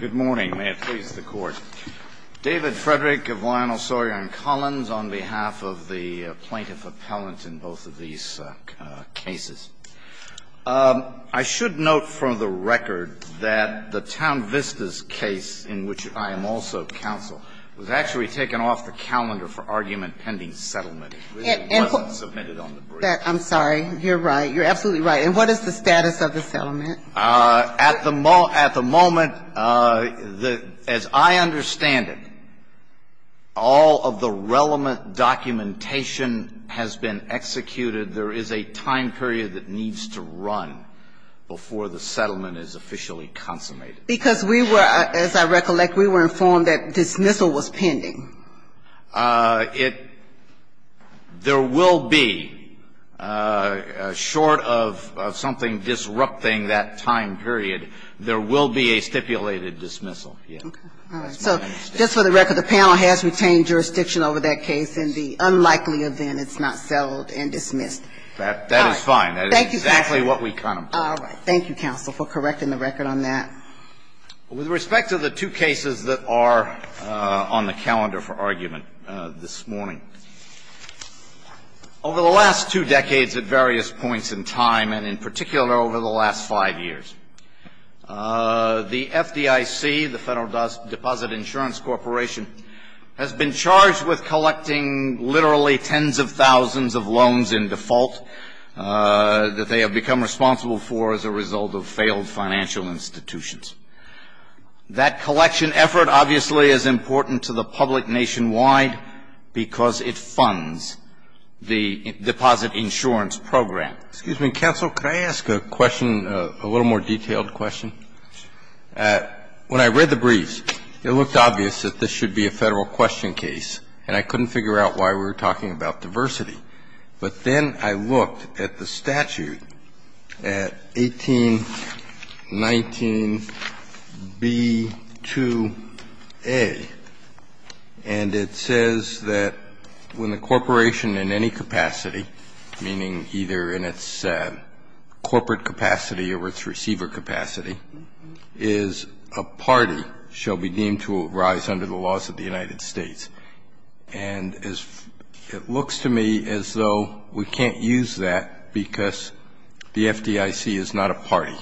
Good morning, may it please the Court. David Frederick of Lionel Sawyer & Collins on behalf of the plaintiff appellant in both of these cases. I should note for the record that the Town Vista's case, in which I am also counsel, was actually taken off the calendar for argument pending settlement. It really wasn't submitted on the brief. I'm sorry, you're right, you're absolutely right. And what is the status of the settlement? At the moment, as I understand it, all of the relevant documentation has been executed. There is a time period that needs to run before the settlement is officially consummated. Because we were, as I recollect, we were informed that dismissal was pending. It – there will be, short of something disrupting that time period, there will be a stipulated dismissal, yes. All right. So just for the record, the panel has retained jurisdiction over that case, and the unlikely event it's not settled and dismissed. That is fine. Thank you, counsel. That is exactly what we contemplate. All right. Thank you, counsel, for correcting the record on that. With respect to the two cases that are on the calendar for argument this morning, over the last two decades at various points in time, and in particular over the last five years, the FDIC, the Federal Deposit Insurance Corporation, has been charged with collecting literally tens of thousands of loans in default that they have become responsible for as a result of failed financial institutions. That collection effort obviously is important to the public nationwide because it funds the deposit insurance program. Excuse me. Counsel, could I ask a question, a little more detailed question? When I read the briefs, it looked obvious that this should be a Federal question case, and I couldn't figure out why we were talking about diversity. But then I looked at the statute at 1819b2a, and it says that when the corporation in any capacity, meaning either in its corporate capacity or its receiver capacity, is a party shall be deemed to arise under the laws of the United States. And it looks to me as though we can't use that because the FDIC is not a party.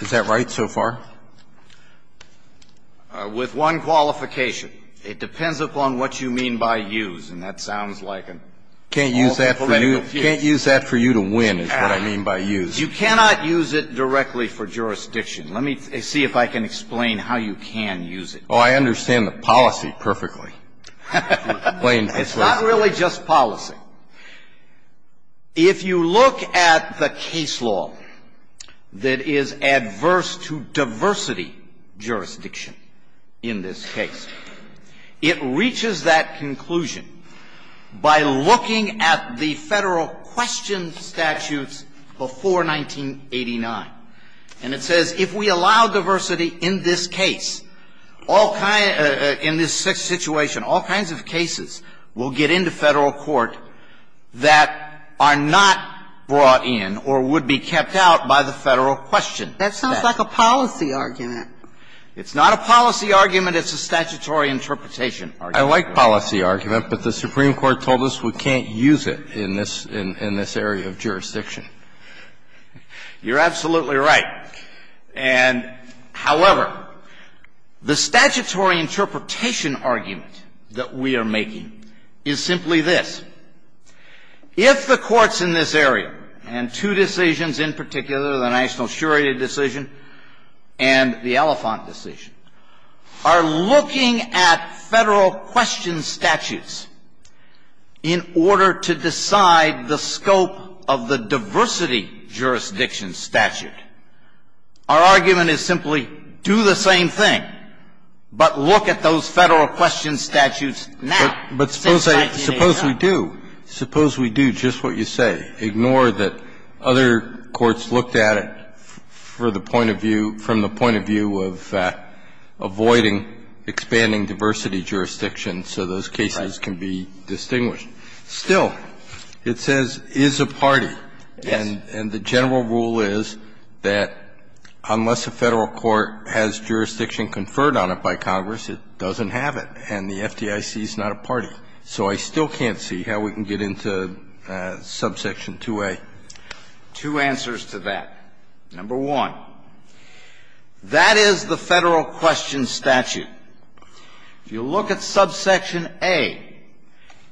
Is that right so far? With one qualification. It depends upon what you mean by use, and that sounds like an awful political fuse. Can't use that for you to win is what I mean by use. You cannot use it directly for jurisdiction. Let me see if I can explain how you can use it. Oh, I understand the policy perfectly. It's not really just policy. If you look at the case law that is adverse to diversity jurisdiction in this case, it reaches that conclusion by looking at the Federal question statutes before 1989. And it says if we allow diversity in this case, all kinds of cases will get into Federal court that are not brought in or would be kept out by the Federal question. That sounds like a policy argument. It's not a policy argument. It's a statutory interpretation argument. I like policy argument, but the Supreme Court told us we can't use it in this area of jurisdiction. You're absolutely right. And, however, the statutory interpretation argument that we are making is simply this. If the courts in this area and two decisions in particular, the national surety decision and the Elephant decision, are looking at Federal question statutes in order to decide the scope of the diversity jurisdiction statute, our argument is simply do the same thing, but look at those Federal question statutes now. But suppose we do. Suppose we do just what you say. Ignore that other courts looked at it for the point of view, from the point of view of avoiding expanding diversity jurisdiction so those cases can be distinguished. Still, it says is a party. Yes. And the general rule is that unless a Federal court has jurisdiction conferred on it by Congress, it doesn't have it, and the FDIC is not a party. So I still can't see how we can get into subsection 2A. Two answers to that. Number one, that is the Federal question statute. If you look at subsection A,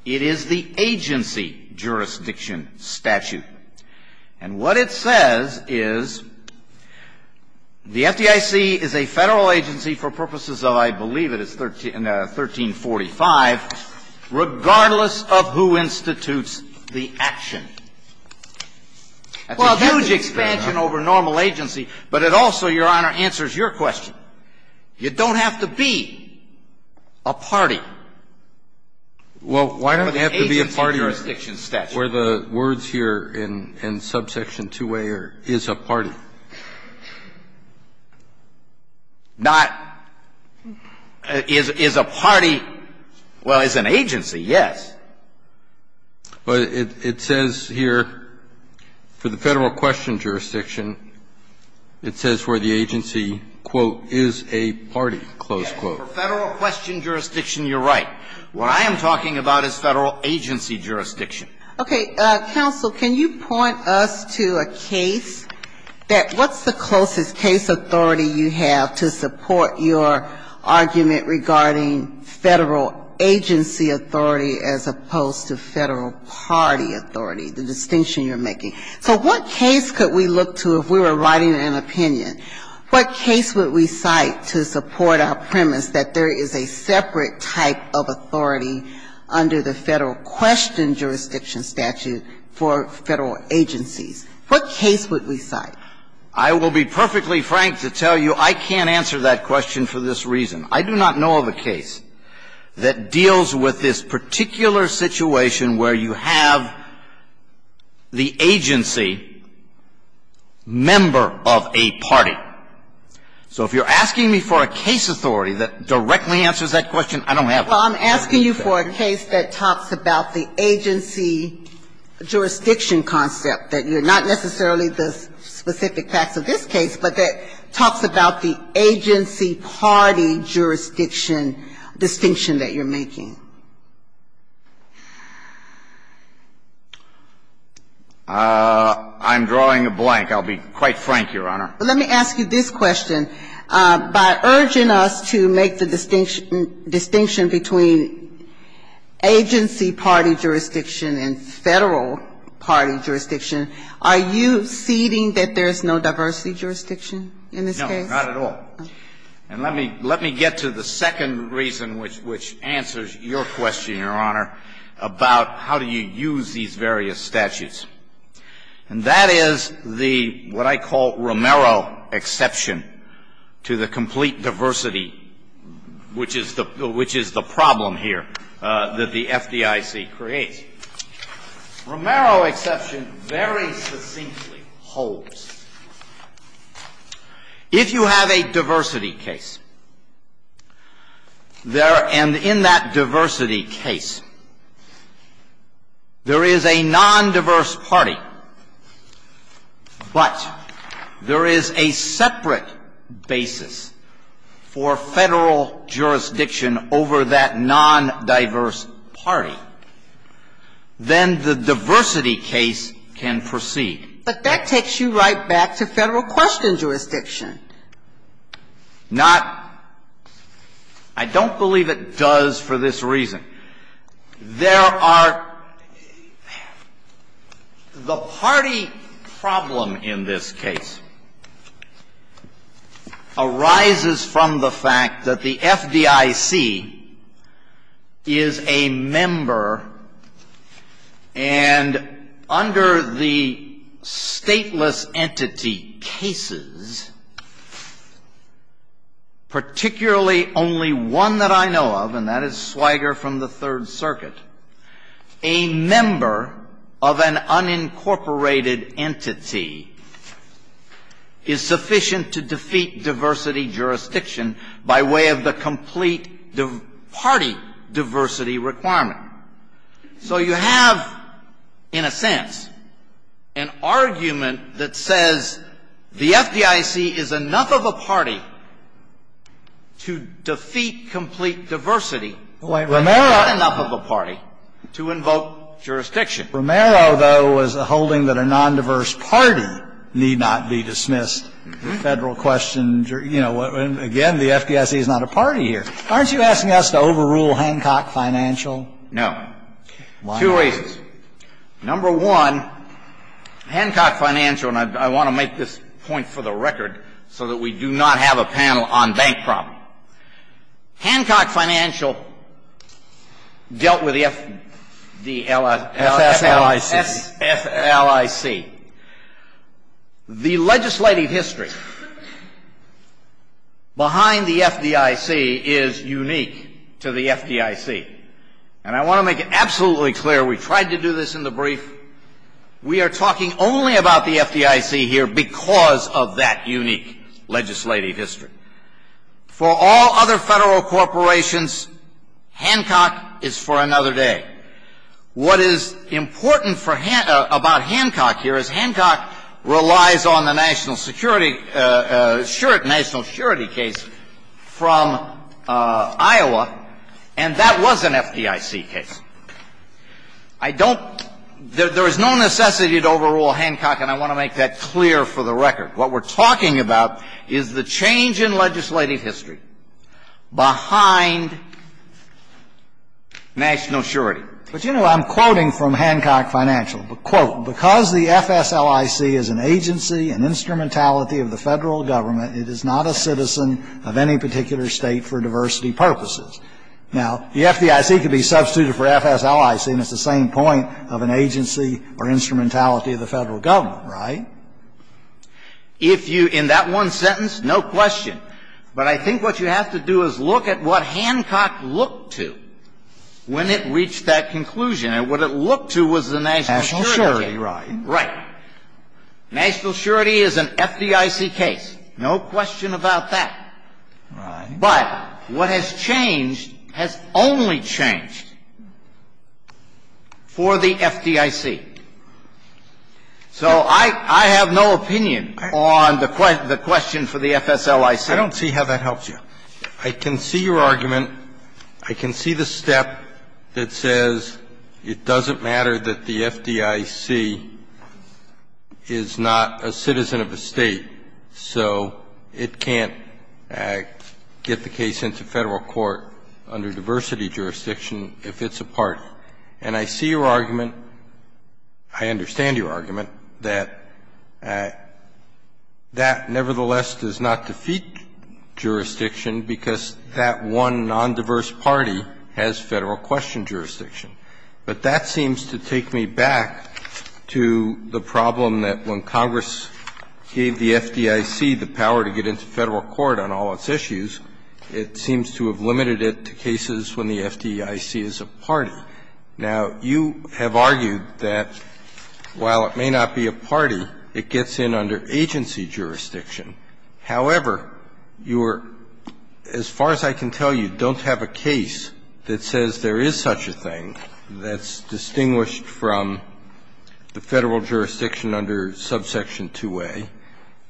it is the agency jurisdiction statute. And what it says is the FDIC is a Federal agency for purposes of, I believe it is 1345, regardless of who institutes the action. That's a huge expansion over normal agency, but it also, Your Honor, answers your question. You don't have to be a party for the agency jurisdiction statute. Well, why don't you have to be a party where the words here in subsection 2A is a party? Not is a party. Well, it's an agency, yes. But it says here, for the Federal question jurisdiction, it says where the agency, quote, is a party, close quote. For Federal question jurisdiction, you're right. What I am talking about is Federal agency jurisdiction. Okay. Counsel, can you point us to a case that what's the closest case authority you have to support your argument regarding Federal agency authority as opposed to Federal party authority, the distinction you're making? So what case could we look to if we were writing an opinion? What case would we cite to support our premise that there is a separate type of authority under the Federal question jurisdiction statute for Federal agencies? What case would we cite? I will be perfectly frank to tell you I can't answer that question for this reason. I do not know of a case that deals with this particular situation where you have the agency member of a party. So if you're asking me for a case authority that directly answers that question, I don't have it. Well, I'm asking you for a case that talks about the agency jurisdiction concept, that you're not necessarily the specific facts of this case, but that talks about the agency party jurisdiction distinction that you're making. I'm drawing a blank. I'll be quite frank, Your Honor. Let me ask you this question. By urging us to make the distinction between agency party jurisdiction and Federal party jurisdiction, are you ceding that there is no diversity jurisdiction in this case? No, not at all. And let me get to the second reason which answers your question. Your question, Your Honor, about how do you use these various statutes. And that is the, what I call, Romero exception to the complete diversity, which is the problem here that the FDIC creates. Romero exception very succinctly holds. If you have a diversity case, there, and in that diversity case, there is a non-diverse party, but there is a separate basis for Federal jurisdiction over that non-diverse party, then the diversity case can proceed. But that takes you right back to Federal questions jurisdiction. Not, I don't believe it does for this reason. There are, the party problem in this case arises from the fact that the FDIC is a member and under the stateless entity cases, particularly only one that I know of, and that is Swiger from the Third Circuit, a member of an unincorporated entity is sufficient to defeat diversity jurisdiction by way of the complete party diversity requirement. So you have, in a sense, an argument that says the FDIC is enough of a party to defeat complete diversity, but it's not enough of a party to invoke jurisdiction. Romero, though, was holding that a non-diverse party need not be dismissed. Federal questions, you know, again, the FDIC is not a party here. Aren't you asking us to overrule Hancock Financial? No. Two reasons. Number one, Hancock Financial, and I want to make this point for the record so that we do not have a panel on bank problem. Hancock Financial dealt with the FDLIC. The legislative history behind the FDIC is unique to the FDIC. And I want to make it absolutely clear, we tried to do this in the brief, we are talking only about the FDIC here because of that unique legislative history. For all other federal corporations, Hancock is for another day. What is important about Hancock here is Hancock relies on the national security case from Iowa, and that was an FDIC case. I don't, there is no necessity to overrule Hancock, and I want to make that clear for the record. What we're talking about is the change in legislative history behind national surety. But, you know, I'm quoting from Hancock Financial. Quote, because the FSLIC is an agency, an instrumentality of the federal government, it is not a citizen of any particular state for diversity purposes. Now, the FDIC could be substituted for FSLIC, and it's the same point of an agency or instrumentality of the federal government, right? If you, in that one sentence, no question. But I think what you have to do is look at what Hancock looked to when it reached that conclusion. And what it looked to was the national security case. National surety, right. Right. National surety is an FDIC case. No question about that. Right. But what has changed has only changed for the FDIC. So I have no opinion on the question for the FSLIC. I don't see how that helps you. I can see your argument. I can see the step that says it doesn't matter that the FDIC is not a citizen of a state, so it can't get the case into Federal court under diversity jurisdiction if it's a party. And I see your argument. I understand your argument that that nevertheless does not defeat jurisdiction because that one non-diverse party has Federal question jurisdiction. But that seems to take me back to the problem that when Congress gave the FDIC the power to get into Federal court on all its issues, it seems to have limited it to jurisdiction. Now, you have argued that while it may not be a party, it gets in under agency jurisdiction. However, you are, as far as I can tell you, don't have a case that says there is such a thing that's distinguished from the Federal jurisdiction under subsection 2A,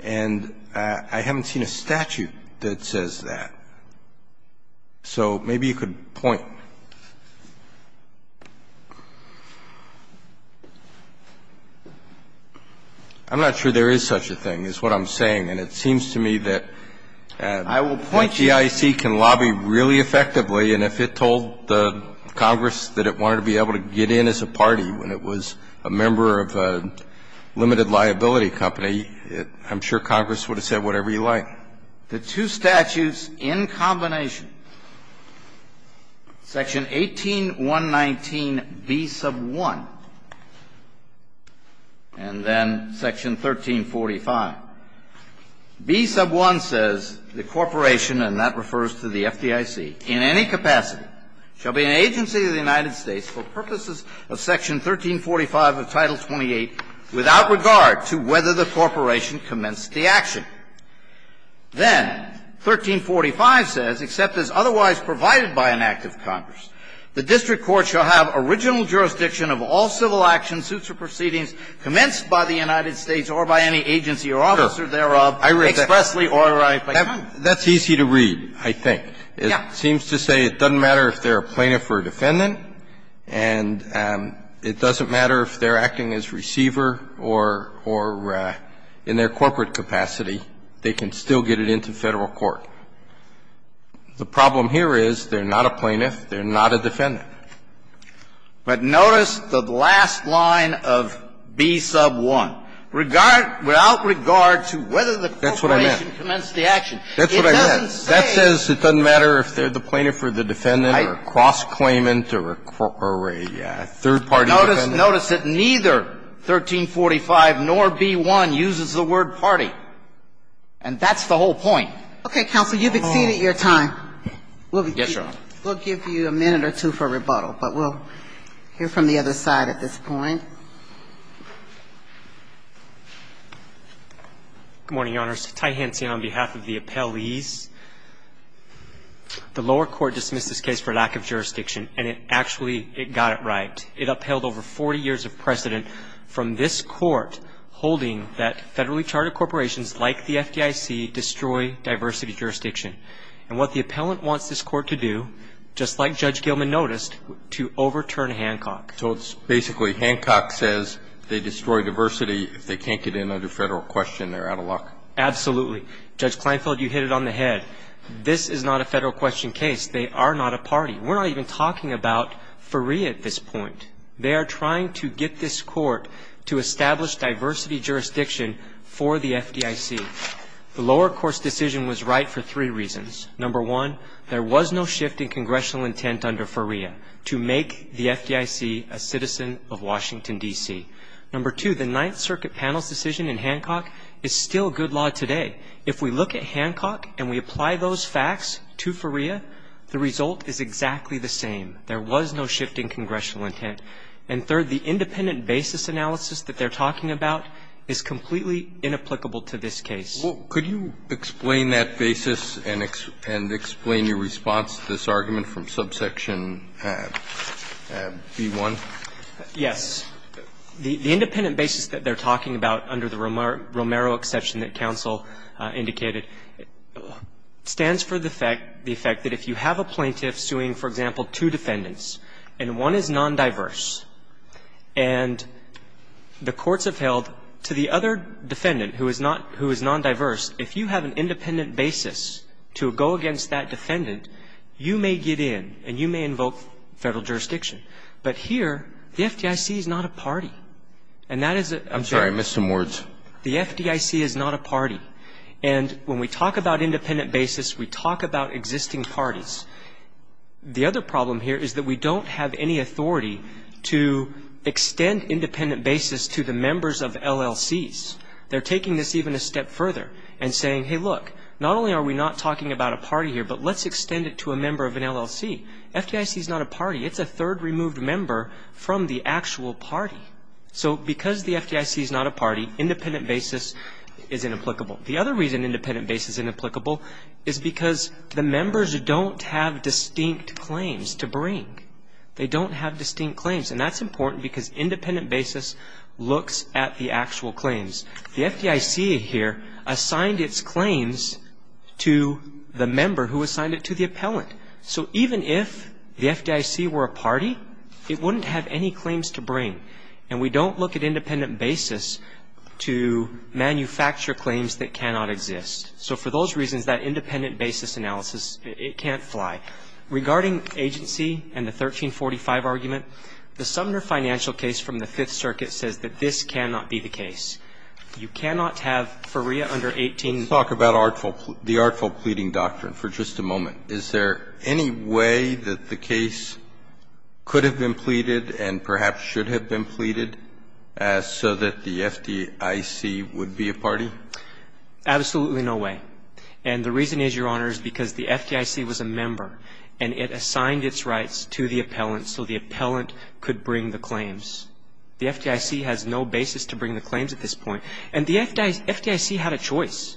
and I haven't seen a statute that says that. So maybe you could point. I'm not sure there is such a thing, is what I'm saying. And it seems to me that the FDIC can lobby really effectively. And if it told Congress that it wanted to be able to get in as a party when it was a member of a limited liability company, I'm sure Congress would have said whatever you like. The two statutes in combination, section 18119B1, and then section 1345. B1 says the Corporation, and that refers to the FDIC, in any capacity shall be an agency of the United States for purposes of section 1345 of Title 28 without regard to whether the Corporation commenced the action. Then, 1345 says, except as otherwise provided by an act of Congress, the district court shall have original jurisdiction of all civil action, suits or proceedings commenced by the United States or by any agency or officer thereof expressly or by Congress. That's easy to read, I think. It seems to say it doesn't matter if they're a plaintiff or a defendant, and it doesn't matter if they're acting as receiver or in their corporate capacity, they can still get it into Federal court. The problem here is they're not a plaintiff, they're not a defendant. But notice the last line of B1, regard to, without regard to whether the Corporation commenced the action. That's what I meant. It doesn't say. That says it doesn't matter if they're the plaintiff or the defendant or cross-claimant or a third-party defendant. Notice that neither 1345 nor B1 uses the word party. And that's the whole point. Okay, counsel, you've exceeded your time. We'll give you a minute or two for rebuttal, but we'll hear from the other side at this point. Good morning, Your Honors. Ty Hansen on behalf of the appellees. The lower court dismissed this case for lack of jurisdiction, and it actually got it right. It upheld over 40 years of precedent from this court holding that federally chartered corporations like the FDIC destroy diversity jurisdiction. And what the appellant wants this court to do, just like Judge Gilman noticed, to overturn Hancock. So it's basically Hancock says they destroy diversity. If they can't get in under Federal question, they're out of luck. Absolutely. Judge Kleinfeld, you hit it on the head. This is not a Federal question case. They are not a party. We're not even talking about FREA at this point. They are trying to get this court to establish diversity jurisdiction for the FDIC. The lower court's decision was right for three reasons. Number one, there was no shift in congressional intent under FREA to make the FDIC a citizen of Washington, D.C. Number two, the Ninth Circuit panel's decision in Hancock is still good law today. If we look at Hancock and we apply those facts to FREA, the result is exactly the same. There was no shift in congressional intent. And third, the independent basis analysis that they're talking about is completely inapplicable to this case. Well, could you explain that basis and explain your response to this argument from subsection B-1? Yes. The independent basis that they're talking about under the Romero exception that counsel indicated stands for the fact, the effect that if you have a plaintiff suing, for example, two defendants, and one is non-diverse, and the courts have held to the other defendant who is not, who is non-diverse, if you have an independent basis to go against that defendant, you may get in and you may invoke Federal jurisdiction. But here, the FDIC is not a party, and that is a very important point. I'm sorry, I missed some words. The FDIC is not a party. And when we talk about independent basis, we talk about existing parties. The other problem here is that we don't have any authority to extend independent basis to the members of LLCs. They're taking this even a step further and saying, hey, look, not only are we not talking about a party here, but let's extend it to a member of an LLC. FDIC is not a party. It's a third removed member from the actual party. So because the FDIC is not a party, independent basis is inapplicable. The other reason independent basis is inapplicable is because the members don't have distinct claims to bring. They don't have distinct claims. And that's important because independent basis looks at the actual claims. The FDIC here assigned its claims to the member who assigned it to the appellant. So even if the FDIC were a party, it wouldn't have any claims to bring. And we don't look at independent basis to manufacture claims that cannot exist. So for those reasons, that independent basis analysis, it can't fly. Regarding agency and the 1345 argument, the Sumner Financial case from the Fifth Circuit says that this cannot be the case. You cannot have FREA under 18. Let's talk about the artful pleading doctrine for just a moment. Is there any way that the case could have been pleaded and perhaps should have been pleaded so that the FDIC would be a party? Absolutely no way. And the reason is, Your Honor, is because the FDIC was a member. And it assigned its rights to the appellant so the appellant could bring the claims. The FDIC has no basis to bring the claims at this point. And the FDIC had a choice.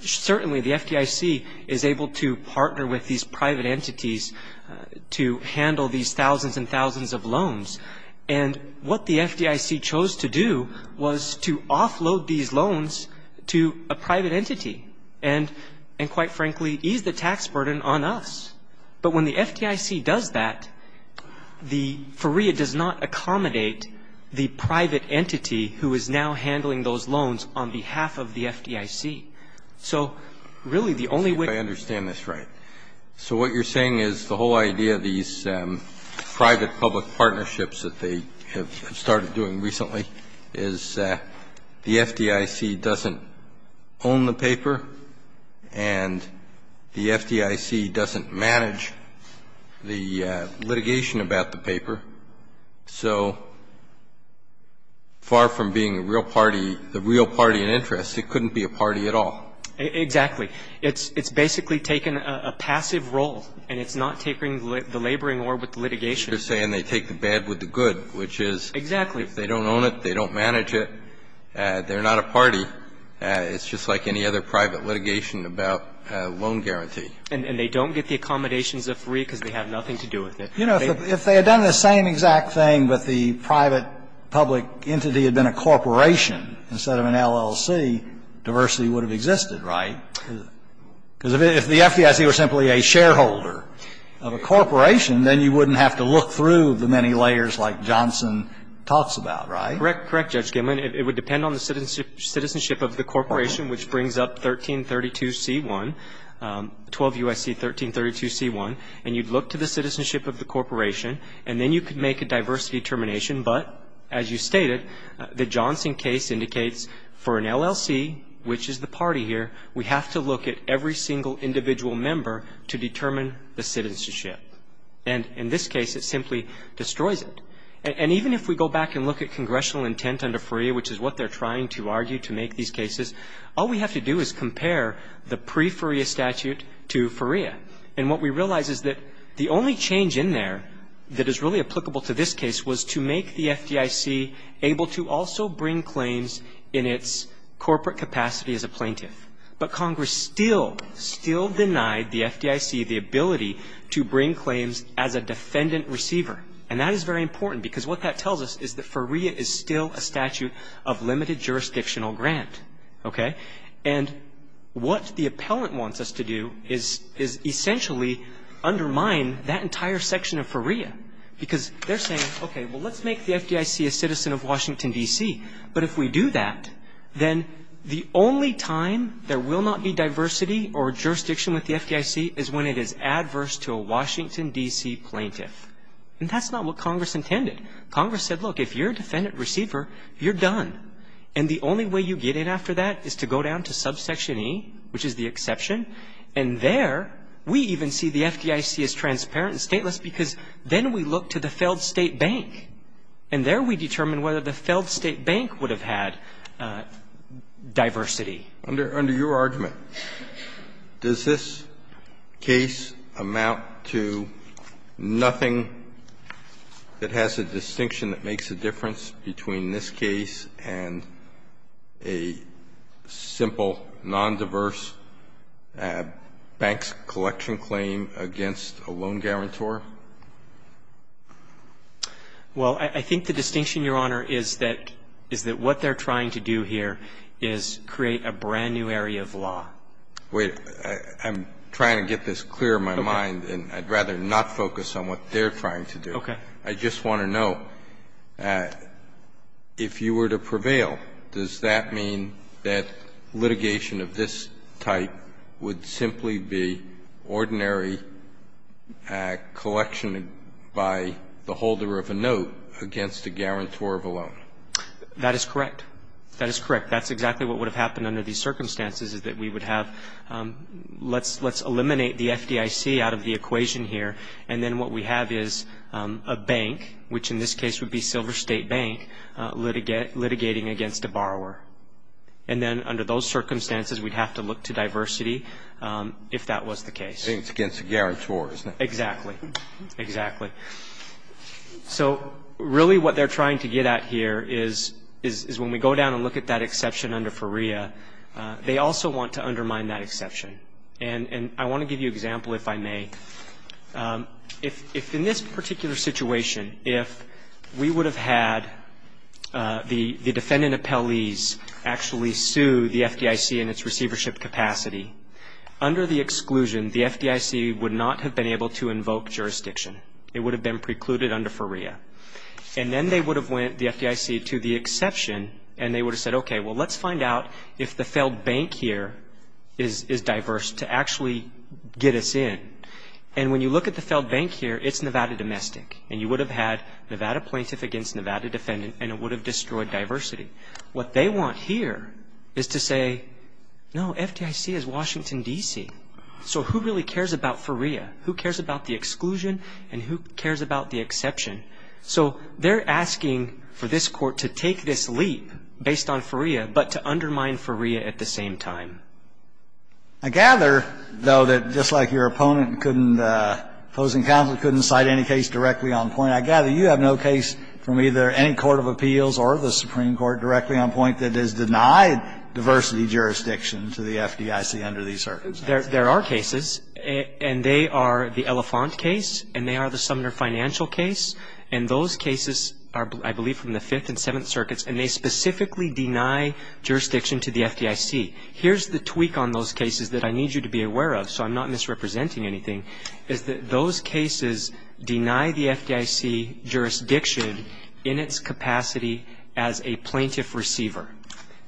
Certainly, the FDIC is able to partner with these private entities to handle these thousands and thousands of loans. And what the FDIC chose to do was to offload these loans to a private entity. And quite frankly, ease the tax burden on us. But when the FDIC does that, the FREA does not accommodate the private entity who is now handling those loans on behalf of the FDIC. So, really, the only way- I understand this right. So what you're saying is the whole idea of these private-public partnerships that they have started doing recently is the FDIC doesn't own the paper. And the FDIC doesn't manage the litigation about the paper. So far from being a real party, the real party in interest, it couldn't be a party at all. Exactly. It's basically taken a passive role. And it's not taking the laboring or with the litigation. You're saying they take the bad with the good, which is- Exactly. If they don't own it, they don't manage it. They're not a party. It's just like any other private litigation about loan guarantee. And they don't get the accommodations of FREA because they have nothing to do with it. You know, if they had done the same exact thing, but the private-public entity had been a corporation instead of an LLC, diversity would have existed, right? Because if the FDIC were simply a shareholder of a corporation, then you wouldn't have to look through the many layers like Johnson talks about, right? Correct. Correct, Judge Gilman. It would depend on the citizenship of the corporation, which brings up 1332c1, 12 U.S.C. 1332c1. And you'd look to the citizenship of the corporation, and then you could make a diversity termination. But as you stated, the Johnson case indicates for an LLC, which is the party here, we have to look at every single individual member to determine the citizenship. And in this case, it simply destroys it. And even if we go back and look at congressional intent under FREA, which is what they're trying to argue to make these cases, all we have to do is compare the pre-FREA statute to FREA. And what we realize is that the only change in there that is really applicable to this case was to make the FDIC able to also bring claims in its corporate capacity as a plaintiff. But Congress still, still denied the FDIC the ability to bring claims as a defendant receiver. And that is very important because what that tells us is that FREA is still a statute of limited jurisdictional grant, okay? And what the appellant wants us to do is, is essentially undermine that entire section of FREA because they're saying, okay, well, let's make the FDIC a citizen of Washington, D.C. But if we do that, then the only time there will not be diversity or jurisdiction with the FDIC is when it is adverse to a Washington, D.C. plaintiff. And that's not what Congress intended. Congress said, look, if you're a defendant receiver, you're done. And the only way you get in after that is to go down to subsection E, which is the exception. And there, we even see the FDIC as transparent and stateless because then we look to the failed state bank. And there we determine whether the failed state bank would have had diversity. Under your argument, does this case amount to nothing that has a distinction that makes a difference between this case and a simple, nondiverse bank's collection claim against a loan guarantor? Well, I think the distinction, Your Honor, is that what they're trying to do here is create a brand-new area of law. Wait. I'm trying to get this clear in my mind, and I'd rather not focus on what they're trying to do. Okay. I just want to know, if you were to prevail, does that mean that litigation of this type would simply be ordinary collection by the holder of a note against a guarantor of a loan? That is correct. That is correct. That's exactly what would have happened under these circumstances, is that we would have, let's eliminate the FDIC out of the equation here, and then what we have is a bank, which in this case would be Silver State Bank, litigating against a borrower. And then under those circumstances, we'd have to look to diversity if that was the case. I think it's against a guarantor, isn't it? Exactly. Exactly. So really what they're trying to get at here is when we go down and look at that exception under FREA, they also want to undermine that exception. And I want to give you an example, if I may. If in this particular situation, if we would have had the defendant appellees actually sue the FDIC in its receivership capacity, under the exclusion, the FDIC would not have been able to invoke jurisdiction. It would have been precluded under FREA. And then they would have went, the FDIC, to the exception, and they would have said, okay, well, let's find out if the failed bank here is diverse to actually get us in. And when you look at the failed bank here, it's Nevada domestic, and you would have had Nevada plaintiff against Nevada defendant, and it would have destroyed diversity. What they want here is to say, no, FDIC is Washington, D.C., so who really cares about FREA? Who cares about the exclusion, and who cares about the exception? So they're asking for this court to take this leap based on FREA, but to undermine FREA at the same time. I gather, though, that just like your opponent couldn't, opposing counsel couldn't cite any case directly on point, I gather you have no case from either any court of appeals or the Supreme Court directly on point that has denied diversity jurisdiction to the FDIC under these circumstances. There are cases, and they are the Elephant case, and they are the Sumner Financial case, and those cases are, I believe, from the Fifth and Seventh Circuits, and they specifically deny jurisdiction to the FDIC. Here's the tweak on those cases that I need you to be aware of, so I'm not misrepresenting anything, is that those cases deny the FDIC jurisdiction in its capacity as a plaintiff receiver,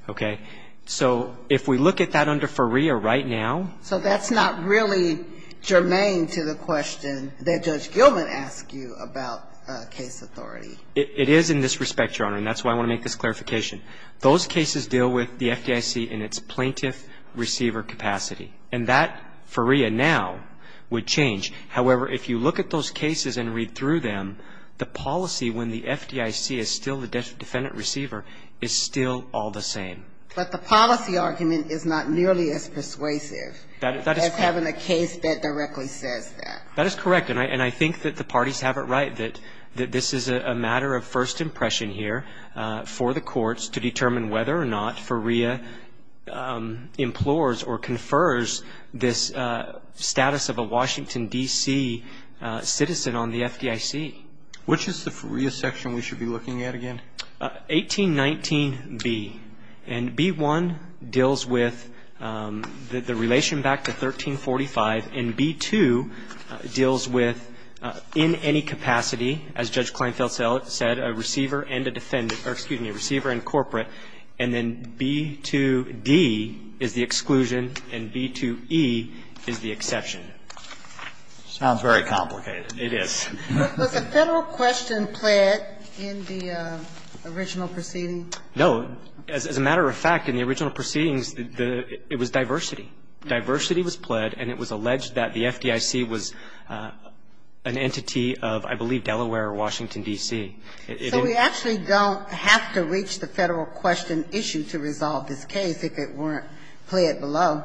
okay? So if we look at that under FREA right now. So that's not really germane to the question that Judge Gilman asked you about case authority. It is in this respect, Your Honor, and that's why I want to make this clarification. Those cases deal with the FDIC in its plaintiff receiver capacity, and that, for FREA now, would change. However, if you look at those cases and read through them, the policy when the FDIC is still the defendant receiver is still all the same. But the policy argument is not nearly as persuasive as having a case that directly says that. That is correct, and I think that the parties have it right that this is a matter of first impression here for the courts to determine whether or not FREA implores or confers this status of a Washington, D.C. citizen on the FDIC. Which is the FREA section we should be looking at again? 1819B, and B1 deals with the relation back to 1345, and B2 deals with in any capacity, as Judge Kleinfeld said, a receiver and a defendant or, excuse me, a receiver and corporate, and then B2D is the exclusion and B2E is the exception. Sounds very complicated. It is. Was the Federal question pled in the original proceeding? No. As a matter of fact, in the original proceedings, it was diversity. Diversity was pled, and it was alleged that the FDIC was an entity of, I believe, Delaware or Washington, D.C. So we actually don't have to reach the Federal question issue to resolve this case if it weren't pled below.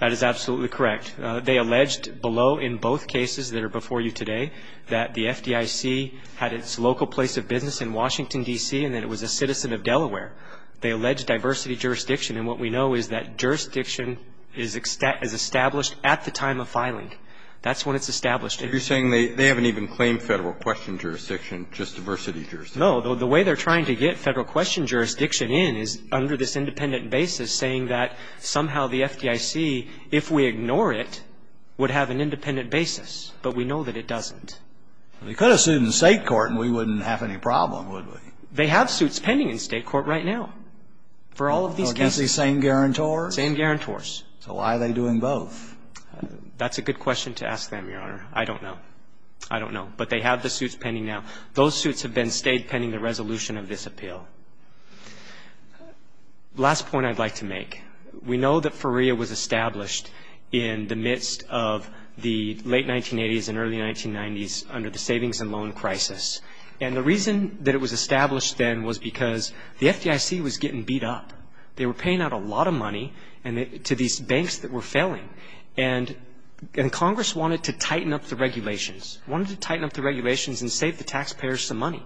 That is absolutely correct. They alleged below in both cases that are before you today that the FDIC had its local place of business in Washington, D.C., and that it was a citizen of Delaware. They allege diversity jurisdiction, and what we know is that jurisdiction is established at the time of filing. That's when it's established. You're saying they haven't even claimed Federal question jurisdiction, just diversity jurisdiction. No. The way they're trying to get Federal question jurisdiction in is under this independent basis, saying that somehow the FDIC, if we ignore it, would have an independent basis, but we know that it doesn't. They could have sued in State court, and we wouldn't have any problem, would we? They have suits pending in State court right now for all of these cases. Against these same guarantors? Same guarantors. So why are they doing both? That's a good question to ask them, Your Honor. I don't know. I don't know. But they have the suits pending now. Those suits have been stayed pending the resolution of this appeal. The last point I'd like to make, we know that FERIA was established in the midst of the late 1980s and early 1990s under the savings and loan crisis. And the reason that it was established then was because the FDIC was getting beat up. They were paying out a lot of money to these banks that were failing. And Congress wanted to tighten up the regulations, wanted to tighten up the regulations and save the taxpayers some money.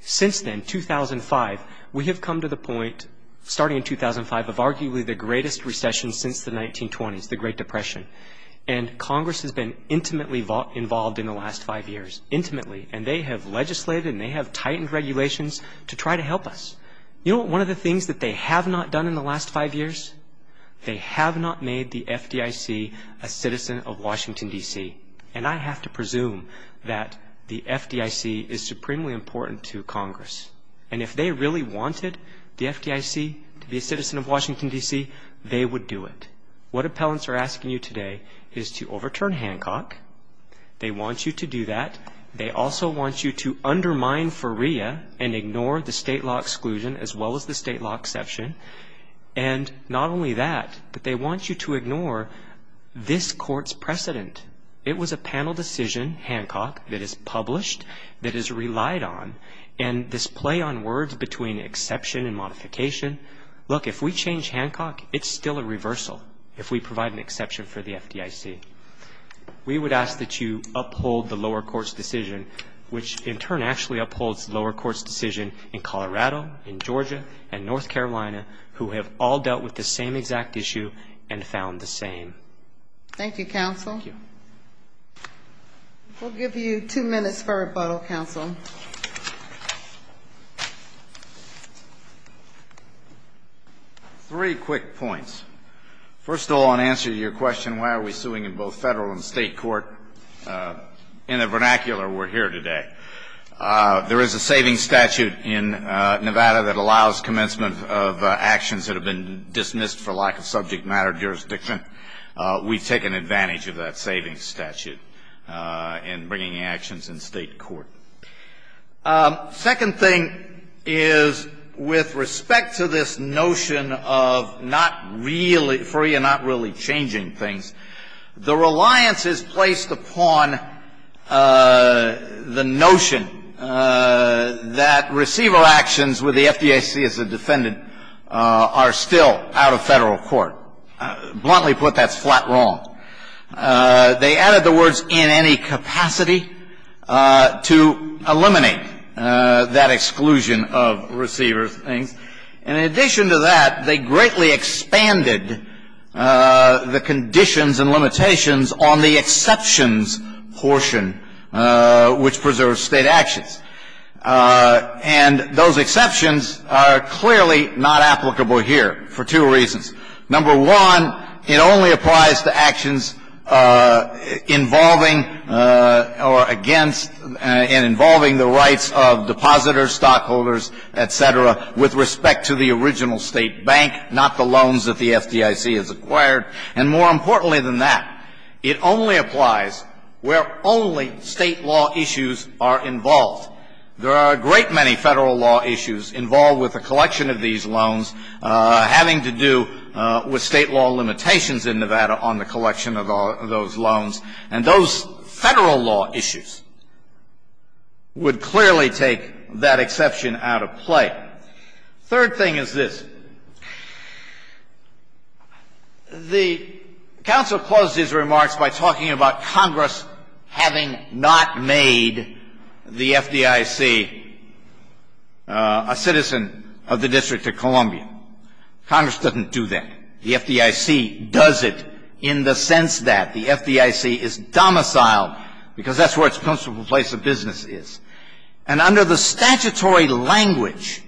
Since then, 2005, we have come to the point, starting in 2005, of arguably the greatest recession since the 1920s, the Great Depression. And Congress has been intimately involved in the last five years, intimately. And they have legislated and they have tightened regulations to try to help us. You know what one of the things that they have not done in the last five years? They have not made the FDIC a citizen of Washington, D.C. And I have to presume that the FDIC is supremely important to Congress. And if they really wanted the FDIC to be a citizen of Washington, D.C., they would do it. What appellants are asking you today is to overturn Hancock. They want you to do that. They also want you to undermine FREA and ignore the state law exclusion as well as the state law exception. And not only that, but they want you to ignore this court's precedent. It was a panel decision, Hancock, that is published, that is relied on. And this play on words between exception and modification, look, if we change Hancock, it's still a reversal if we provide an exception for the FDIC. We would ask that you uphold the lower court's decision, which in turn actually upholds the lower court's decision in Colorado, in Georgia, and North Carolina, who have all dealt with the same exact issue and found the same. Thank you, counsel. Thank you. We'll give you two minutes for rebuttal, counsel. Three quick points. First of all, in answer to your question, why are we suing in both federal and state court, in a vernacular, we're here today. There is a savings statute in Nevada that allows commencement of actions that have been dismissed for lack of subject matter jurisdiction. We've taken advantage of that savings statute in bringing actions in state court. Second thing is, with respect to this notion of not really free and not really changing things, the reliance is placed upon the notion that receiver actions with the FDIC as a defendant are still out of federal court. Bluntly put, that's flat wrong. They added the words, in any capacity, to eliminate that exclusion of receiver things. In addition to that, they greatly expanded the conditions and limitations on the exceptions portion, which preserves state actions. And those exceptions are clearly not applicable here for two reasons. Number one, it only applies to actions involving or against and involving the rights of depositors, stockholders, et cetera, with respect to the original state bank, not the loans that the FDIC has acquired. And more importantly than that, it only applies where only state law issues are involved. There are a great many federal law issues involved with the collection of these loans having to do with state law limitations in Nevada on the collection of those loans. And those federal law issues would clearly take that exception out of play. Third thing is this. The counsel closed his remarks by talking about Congress having not made the FDIC a citizen of the District of Columbia. Congress doesn't do that. The FDIC does it in the sense that the FDIC is domiciled because that's where its principal place of business is. And under the statutory language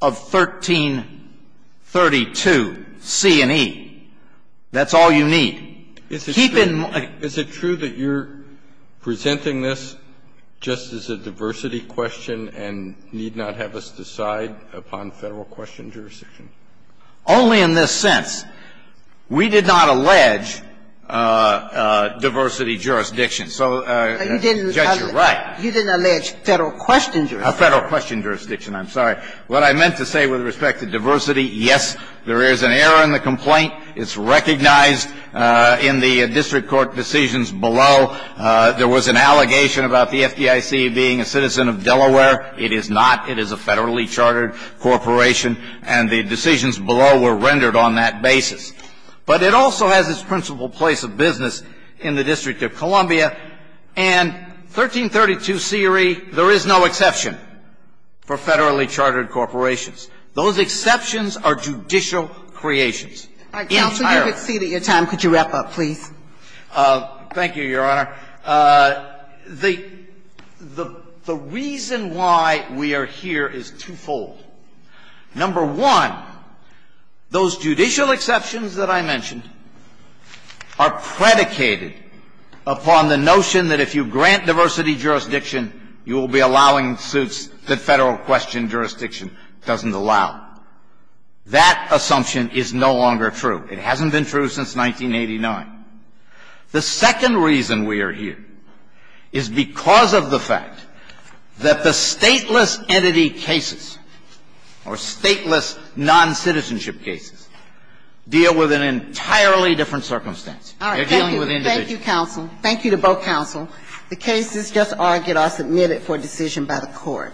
of 1332 C and E, that's all you need. Keep in mind. Kennedy, is it true that you're presenting this just as a diversity question and need not have us decide upon Federal question jurisdiction? Only in this sense. We did not allege diversity jurisdiction. So, Judge, you're right. You didn't allege Federal question jurisdiction. Federal question jurisdiction. I'm sorry. It's recognized in the district court decisions below. There was an allegation about the FDIC being a citizen of Delaware. It is not. It is a federally chartered corporation. And the decisions below were rendered on that basis. But it also has its principal place of business in the District of Columbia. And 1332 C or E, there is no exception for federally chartered corporations. Those exceptions are judicial creations. Entirely. Counsel, you have exceeded your time. Could you wrap up, please? Thank you, Your Honor. The reason why we are here is twofold. Number one, those judicial exceptions that I mentioned are predicated upon the notion that if you grant diversity jurisdiction, you will be allowing suits that Federal question jurisdiction doesn't allow. That assumption is no longer true. It hasn't been true since 1989. The second reason we are here is because of the fact that the stateless entity cases or stateless noncitizenship cases deal with an entirely different circumstance. They're dealing with individuals. Thank you, counsel. Thank you to both counsel. The cases just argued are submitted for decision by the Court.